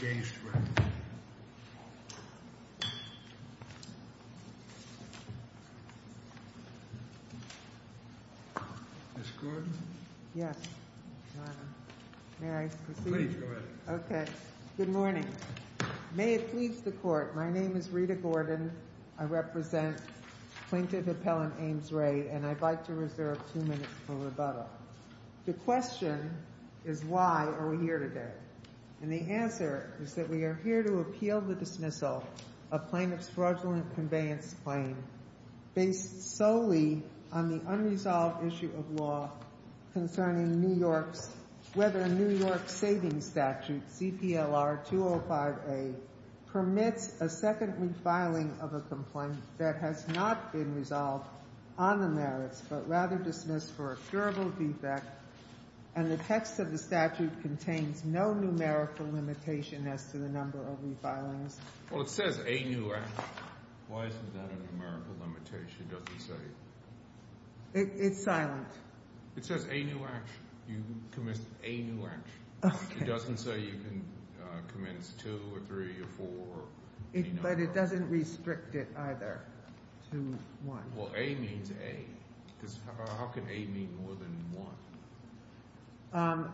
Gainsborough. Ms. Gordon? Yes, Your Honor. May I proceed? Please, go ahead. Okay. Good morning. May it please the Court, my name is Rita Gordon, I represent Plaintiff Appellant Ames Ray, and I'd like to reserve two minutes for rebuttal. The question is why are we here today? And the answer is that we are here to appeal the dismissal of Plaintiff's fraudulent conveyance claim based solely on the unresolved issue of law concerning New York's, whether a New York savings statute, CPLR 205A, permits a second refiling of a complaint that has not been resolved on the merits, but rather dismissed for a curable defect, and the text of the statute contains no numerical limitation as to the number of refilings. Well, it says a new action. Why isn't that a numerical limitation? It doesn't say. It's silent. It says a new action. You commenced a new action. Okay. It doesn't say you can commence two or three or four or any number. But it doesn't restrict it either. Well, a means a. How can a mean more than one?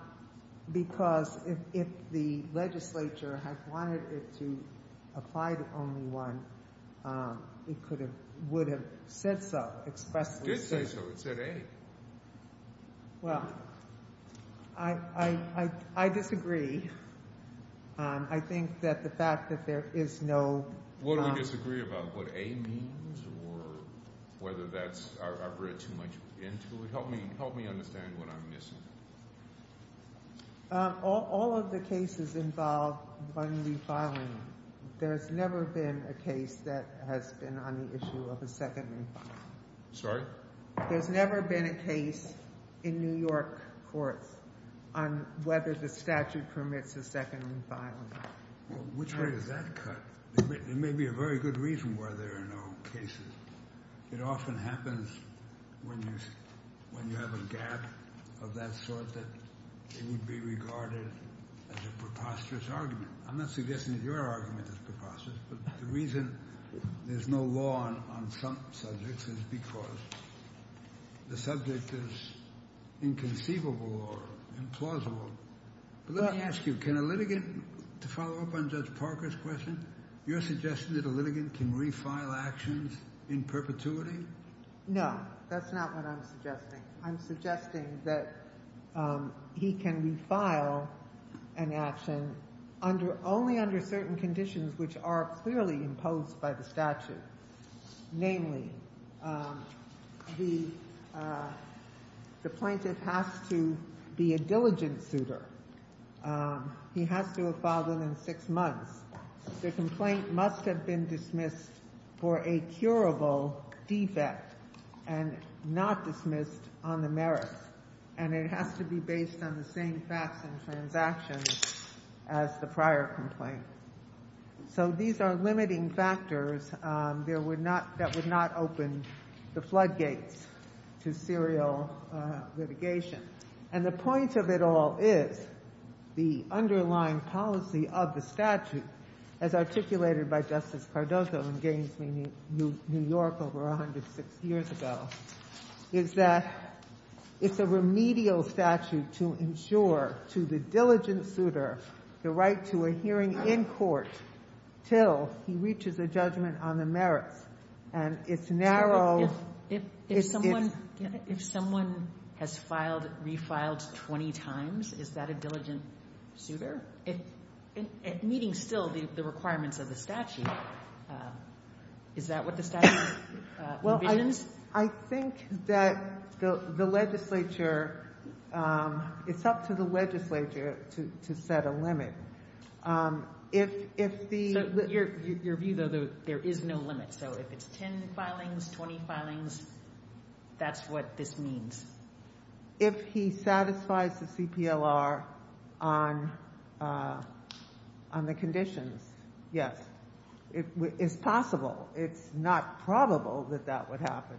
Because if the legislature had wanted it to apply to only one, it would have said so, expressly said. It did say so. It said a. Well, I disagree. I think that the fact that there is no What do we disagree about? What a means or whether that's, I've read too much into it. Help me understand what I'm missing. All of the cases involve one refiling. There's never been a case that has been on the issue of a second refiling. Sorry? There's never been a case in New York courts on whether the statute permits a second refiling. Which way does that cut? It may be a very good reason why there are no cases. It often happens when you have a gap of that sort that it would be regarded as a preposterous argument. I'm not suggesting that your argument is preposterous. But the reason there's no law on some subjects is because the subject is inconceivable or implausible. Let me ask you, can a litigant, to follow up on Judge Parker's question, you're suggesting that a litigant can refile actions in perpetuity? No, that's not what I'm suggesting. I'm suggesting that he can refile an action only under certain conditions which are clearly imposed by the statute. Namely, the plaintiff has to be a diligent suitor. He has to have filed them in six months. The complaint must have been dismissed for a curable defect and not dismissed on the merits. And it has to be based on the same facts and transactions as the prior complaint. So these are limiting factors that would not open the floodgates to serial litigation. And the point of it all is the underlying policy of the statute, as articulated by Justice Cardozo in Gainesville, New York, over 106 years ago, is that it's a remedial statute to insure to the diligent suitor the right to a hearing in court till he reaches a judgment on the merits. And it's narrow. If someone has filed, refiled 20 times, is that a diligent suitor? Meeting still the requirements of the statute, is that what the statute envisions? I think that the legislature, it's up to the legislature to set a limit. Your view, though, there is no limit. So if it's 10 filings, 20 filings, that's what this means? If he satisfies the CPLR on the conditions, yes. It's possible. It's not probable that that would happen.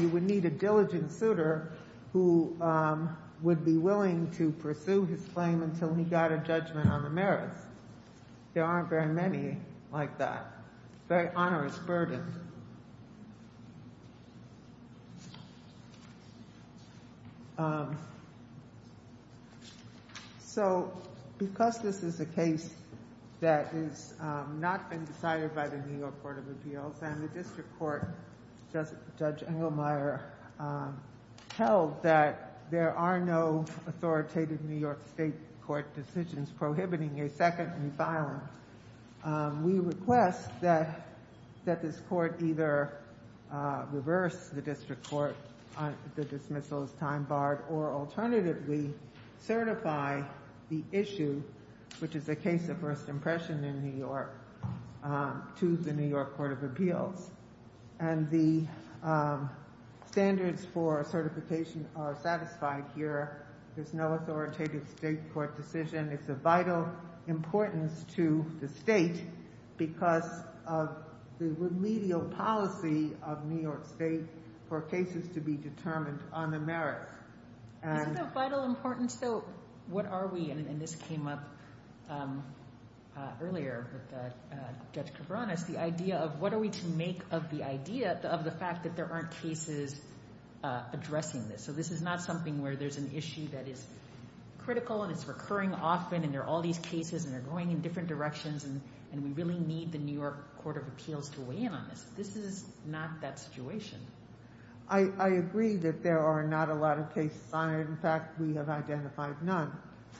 You would need a diligent suitor who would be willing to pursue his claim until he got a judgment on the merits. There aren't very many like that. Very onerous burden. So because this is a case that has not been decided by the New York Court of Appeals, and the district court, Judge Engelmeyer, held that there are no authoritative New York state court decisions prohibiting a second in violence, we request that this court either reverse the district court, the dismissal is time barred, or alternatively certify the issue, which is a case of first impression in New York, to the New York Court of Appeals. And the standards for certification are satisfied here. There's no authoritative state court decision. It's of vital importance to the state because of the remedial policy of New York state for cases to be determined on the merits. Is it of vital importance, though, what are we, and this came up earlier with Judge Kavranis, the idea of what are we to make of the idea of the fact that there aren't cases addressing this? So this is not something where there's an issue that is critical, and it's recurring often, and there are all these cases, and they're going in different directions, and we really need the New York Court of Appeals to weigh in on this. This is not that situation. I agree that there are not a lot of cases on it. In fact, we have identified none.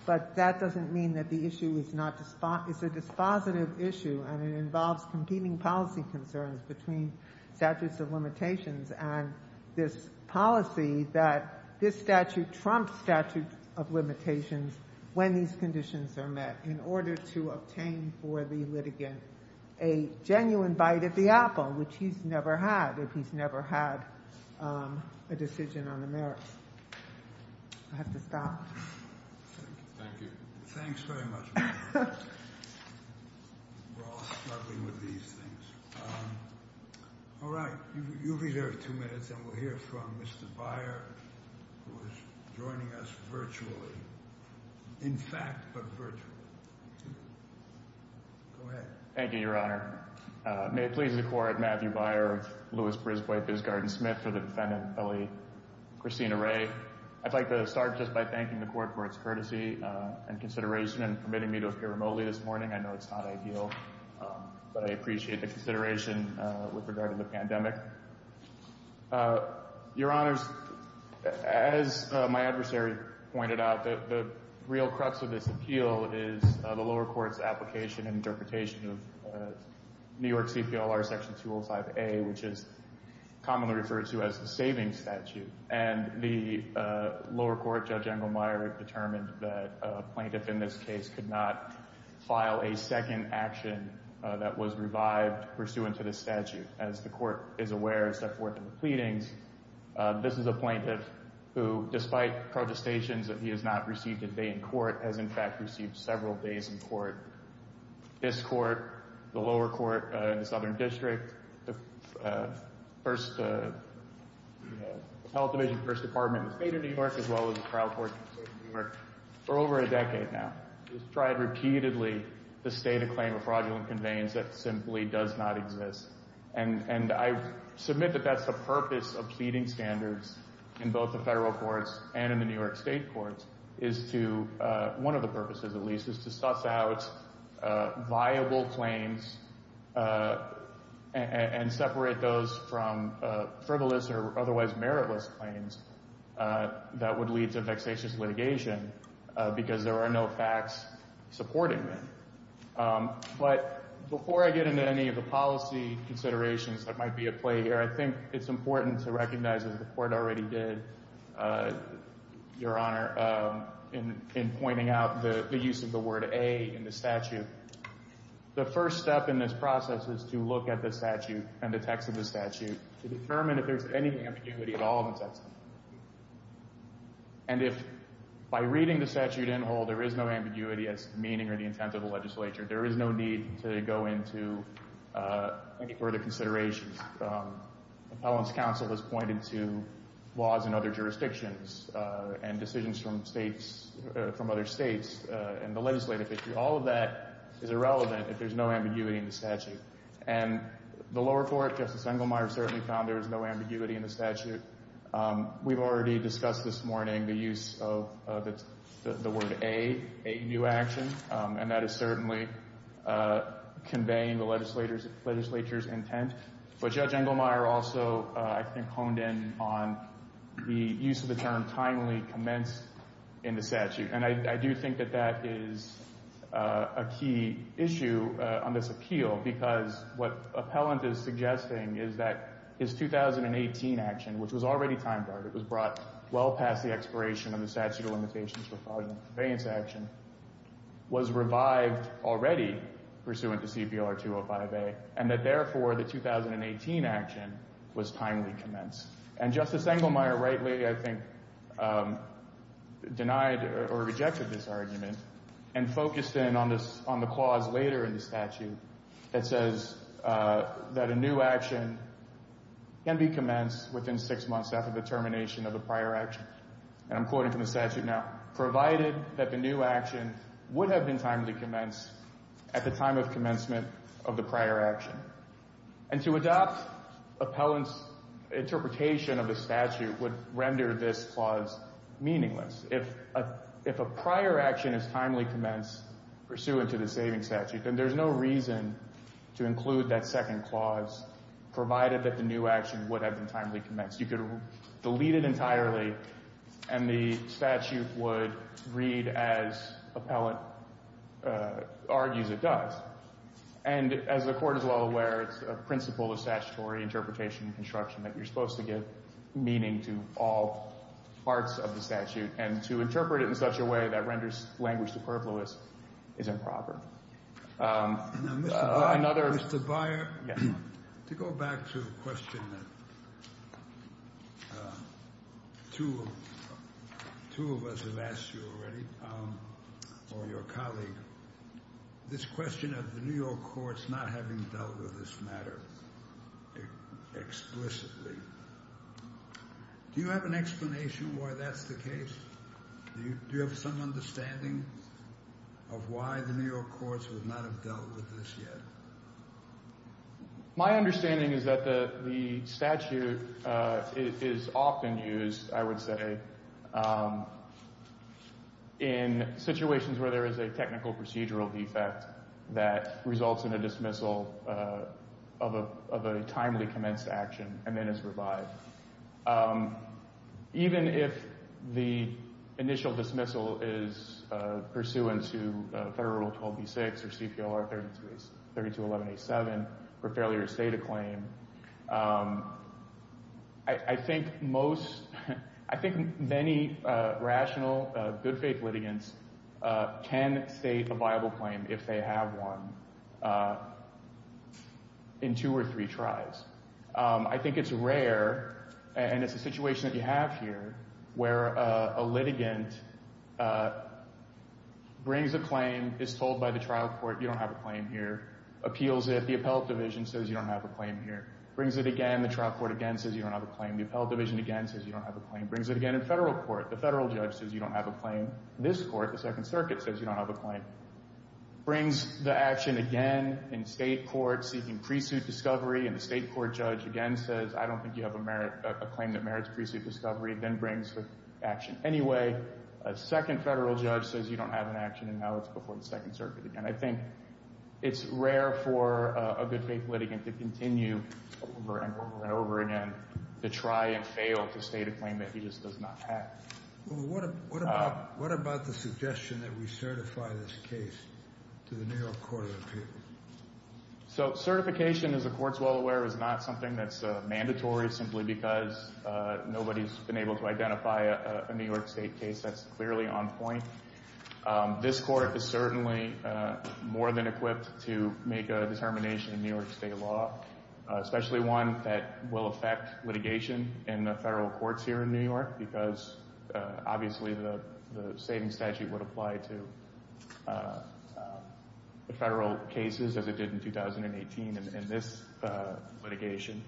But that doesn't mean that the issue is a dispositive issue, and it involves competing policy concerns between statutes of limitations and this policy that this statute trumps statute of limitations when these conditions are met in order to obtain for the litigant a genuine bite at the apple, which he's never had if he's never had a decision on the merits. I have to stop. Thank you. Thanks very much. We're all struggling with these things. All right. You'll be here in two minutes, and we'll hear from Mr. Byer, who is joining us virtually. In fact, but virtually. Go ahead. Thank you, Your Honor. May it please the Court, Matthew Byer of Louis-Brisbway-Bisgarden-Smith, for the defendant, Kelly Christina Wray. I'd like to start just by thanking the Court for its courtesy and consideration in permitting me to appear remotely this morning. I know it's not ideal, but I appreciate the consideration with regard to the pandemic. Your Honors, as my adversary pointed out, the real crux of this appeal is the lower court's application and interpretation of New York CPLR Section 205A, which is commonly referred to as the savings statute. And the lower court, Judge Engelmeyer, determined that a plaintiff in this case could not file a second action that was revived pursuant to the statute. As the Court is aware, as set forth in the pleadings, this is a plaintiff who, despite protestations that he has not received a day in court, has in fact received several days in court. This Court, the lower court in the Southern District, the Health Division First Department in the State of New York, as well as the trial court in the State of New York, for over a decade now, has tried repeatedly to stay to claim a fraudulent conveyance that simply does not exist. And I submit that that's the purpose of pleading standards in both the federal courts and in the New York State courts, one of the purposes, at least, is to suss out viable claims and separate those from frivolous or otherwise meritless claims that would lead to vexatious litigation because there are no facts supporting them. But before I get into any of the policy considerations that might be at play here, I think it's important to recognize, as the Court already did, Your Honor, in pointing out the use of the word A in the statute. The first step in this process is to look at the statute and the text of the statute to determine if there's any ambiguity at all in the text. And if, by reading the statute in whole, there is no ambiguity as to the meaning or the intent of the legislature, there is no need to go into any further considerations. Appellant's counsel has pointed to laws in other jurisdictions and decisions from states, from other states, and the legislative issue. All of that is irrelevant if there's no ambiguity in the statute. And the lower court, Justice Engelmeyer, certainly found there was no ambiguity in the statute. We've already discussed this morning the use of the word A, a new action, and that is certainly conveying the legislature's intent. But Judge Engelmeyer also, I think, honed in on the use of the term timely commenced in the statute. And I do think that that is a key issue on this appeal because what Appellant is suggesting is that his 2018 action, which was already time guarded, was brought well past the expiration of the statute of limitations for fraudulent conveyance action, was revived already pursuant to CPLR 205A, and that therefore the 2018 action was timely commenced. And Justice Engelmeyer rightly, I think, denied or rejected this argument and focused in on the clause later in the statute that says that a new action can be commenced within six months after the termination of the prior action. And I'm quoting from the statute now. Provided that the new action would have been timely commenced at the time of commencement of the prior action. And to adopt Appellant's interpretation of the statute would render this clause meaningless. If a prior action is timely commenced pursuant to the saving statute, then there's no reason to include that second clause provided that the new action would have been timely commenced. You could delete it entirely and the statute would read as Appellant argues it does. And as the Court is well aware, it's a principle of statutory interpretation and construction that you're supposed to give meaning to all parts of the statute and to interpret it in such a way that renders language superfluous is improper. Mr. Byer, to go back to the question that two of us have asked you already, or your colleague, this question of the New York courts not having dealt with this matter explicitly, do you have an explanation why that's the case? Do you have some understanding of why the New York courts would not have dealt with this yet? My understanding is that the statute is often used, I would say, in situations where there is a technical procedural defect that results in a dismissal of a timely commenced action and then is revived. Even if the initial dismissal is pursuant to Federal Rule 12b-6 or CPLR 3211-87 for failure to state a claim, I think many rational, good faith litigants can state a viable claim if they have one in two or three tries. I think it's rare and it's a situation that you have here where a litigant brings a claim, is told by the trial court, you don't have a claim here, appeals it, the appellate division says you don't have a claim here, brings it again, the trial court again says you don't have a claim, the appellate division again says you don't have a claim, brings it again in Federal court, the Federal judge says you don't have a claim, this court, the Second Circuit, says you don't have a claim. Brings the action again in State court, seeking pre-suit discovery, and the State court judge again says I don't think you have a claim that merits pre-suit discovery, then brings the action anyway. A second Federal judge says you don't have an action and now it's before the Second Circuit again. I think it's rare for a good faith litigant to continue over and over and over again to try and fail to state a claim that he just does not have. What about the suggestion that we certify this case to the New York Court of Appeals? So certification, as the Court is well aware, is not something that's mandatory simply because nobody's been able to identify a New York State case that's clearly on point. This Court is certainly more than equipped to make a determination in New York State law, especially one that will affect litigation in the Federal courts here in New York because obviously the saving statute would apply to the Federal cases as it did in 2018 in this litigation.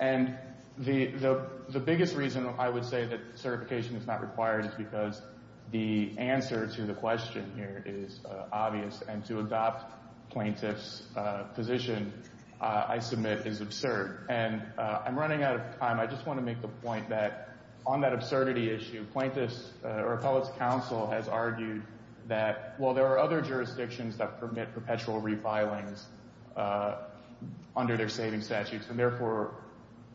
And the biggest reason I would say that certification is not required is because the answer to the question here is obvious, and to adopt plaintiff's position, I submit, is absurd. And I'm running out of time. I just want to make the point that on that absurdity issue, plaintiffs' or appellate's counsel has argued that, well, there are other jurisdictions that permit perpetual revilings under their saving statutes, and therefore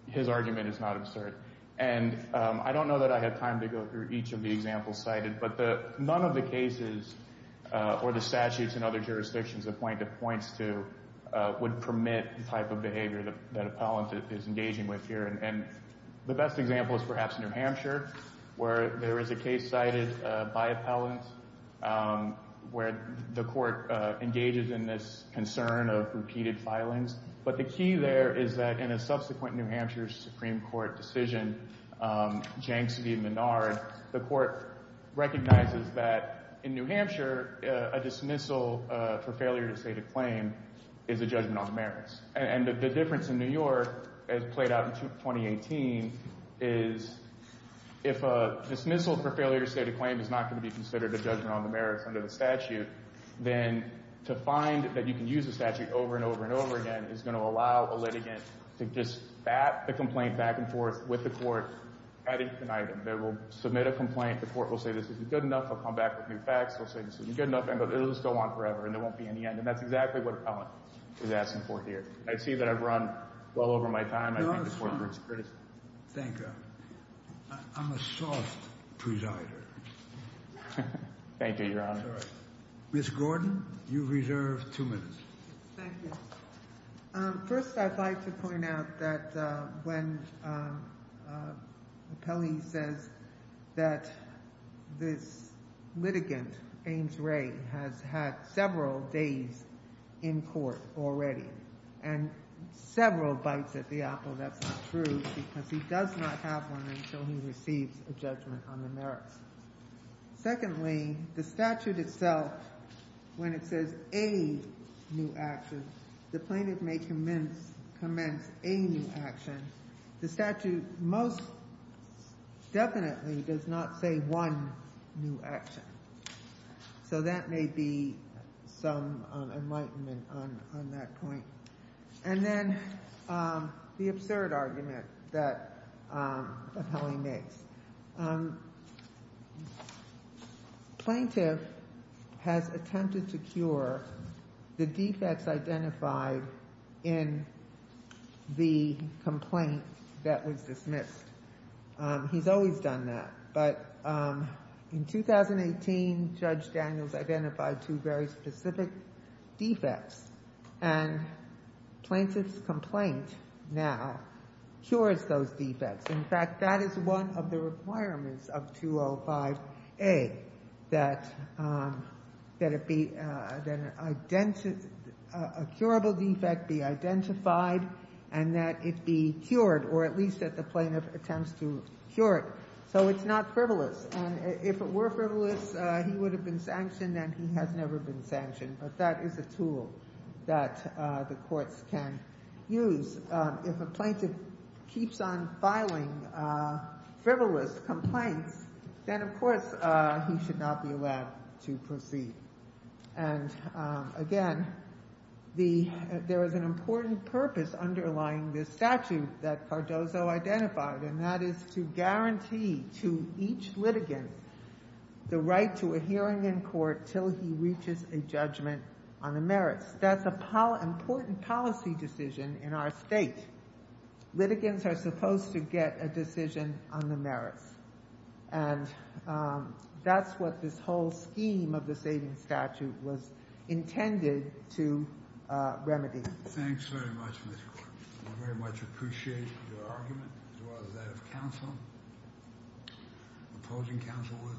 his argument is not absurd. And I don't know that I have time to go through each of the examples cited, but none of the cases or the statutes in other jurisdictions a plaintiff points to would permit the type of behavior that an appellant is engaging with here. And the best example is perhaps New Hampshire, where there is a case cited by appellants where the Court engages in this concern of repeated filings. But the key there is that in a subsequent New Hampshire Supreme Court decision, Janksy v. Minard, the Court recognizes that in New Hampshire, a dismissal for failure to state a claim is a judgment on the merits. And the difference in New York, as played out in 2018, is if a dismissal for failure to state a claim is not going to be considered a judgment on the merits under the statute, then to find that you can use the statute over and over and over again is going to allow a litigant to just bat the complaint back and forth with the Court at each item. They will submit a complaint. The Court will say, this isn't good enough. They'll come back with new facts. They'll say, this isn't good enough. And it'll just go on forever, and there won't be any end. And that's exactly what an appellant is asking for here. I see that I've run well over my time. I think the Court is pretty— No, it's fine. Thank you. I'm a soft presider. Thank you, Your Honor. Sorry. Ms. Gordon, you reserve two minutes. Thank you. First, I'd like to point out that when the appellee says that this litigant, Ames Ray, has had several days in court already and several bites at the apple, that's not true because he does not have one until he receives a judgment on the merits. Secondly, the statute itself, when it says a new action, the plaintiff may commence a new action. The statute most definitely does not say one new action. So that may be some enlightenment on that point. And then the absurd argument that the appellee makes. Plaintiff has attempted to cure the defects identified in the complaint that was dismissed. He's always done that. But in 2018, Judge Daniels identified two very specific defects. And plaintiff's complaint now cures those defects. In fact, that is one of the requirements of 205A, that a curable defect be identified and that it be cured, or at least that the plaintiff attempts to cure it. So it's not frivolous. And if it were frivolous, he would have been sanctioned, and he has never been sanctioned. But that is a tool that the courts can use. If a plaintiff keeps on filing frivolous complaints, then, of course, he should not be allowed to proceed. And, again, there is an important purpose underlying this statute that Cardozo identified, and that is to guarantee to each litigant the right to a hearing in court till he reaches a judgment on the merits. That's an important policy decision in our state. Litigants are supposed to get a decision on the merits. And that's what this whole scheme of the savings statute was intended to remedy. Thanks very much, Mr. Clark. I very much appreciate your argument as well as that of counsel, opposing counsel.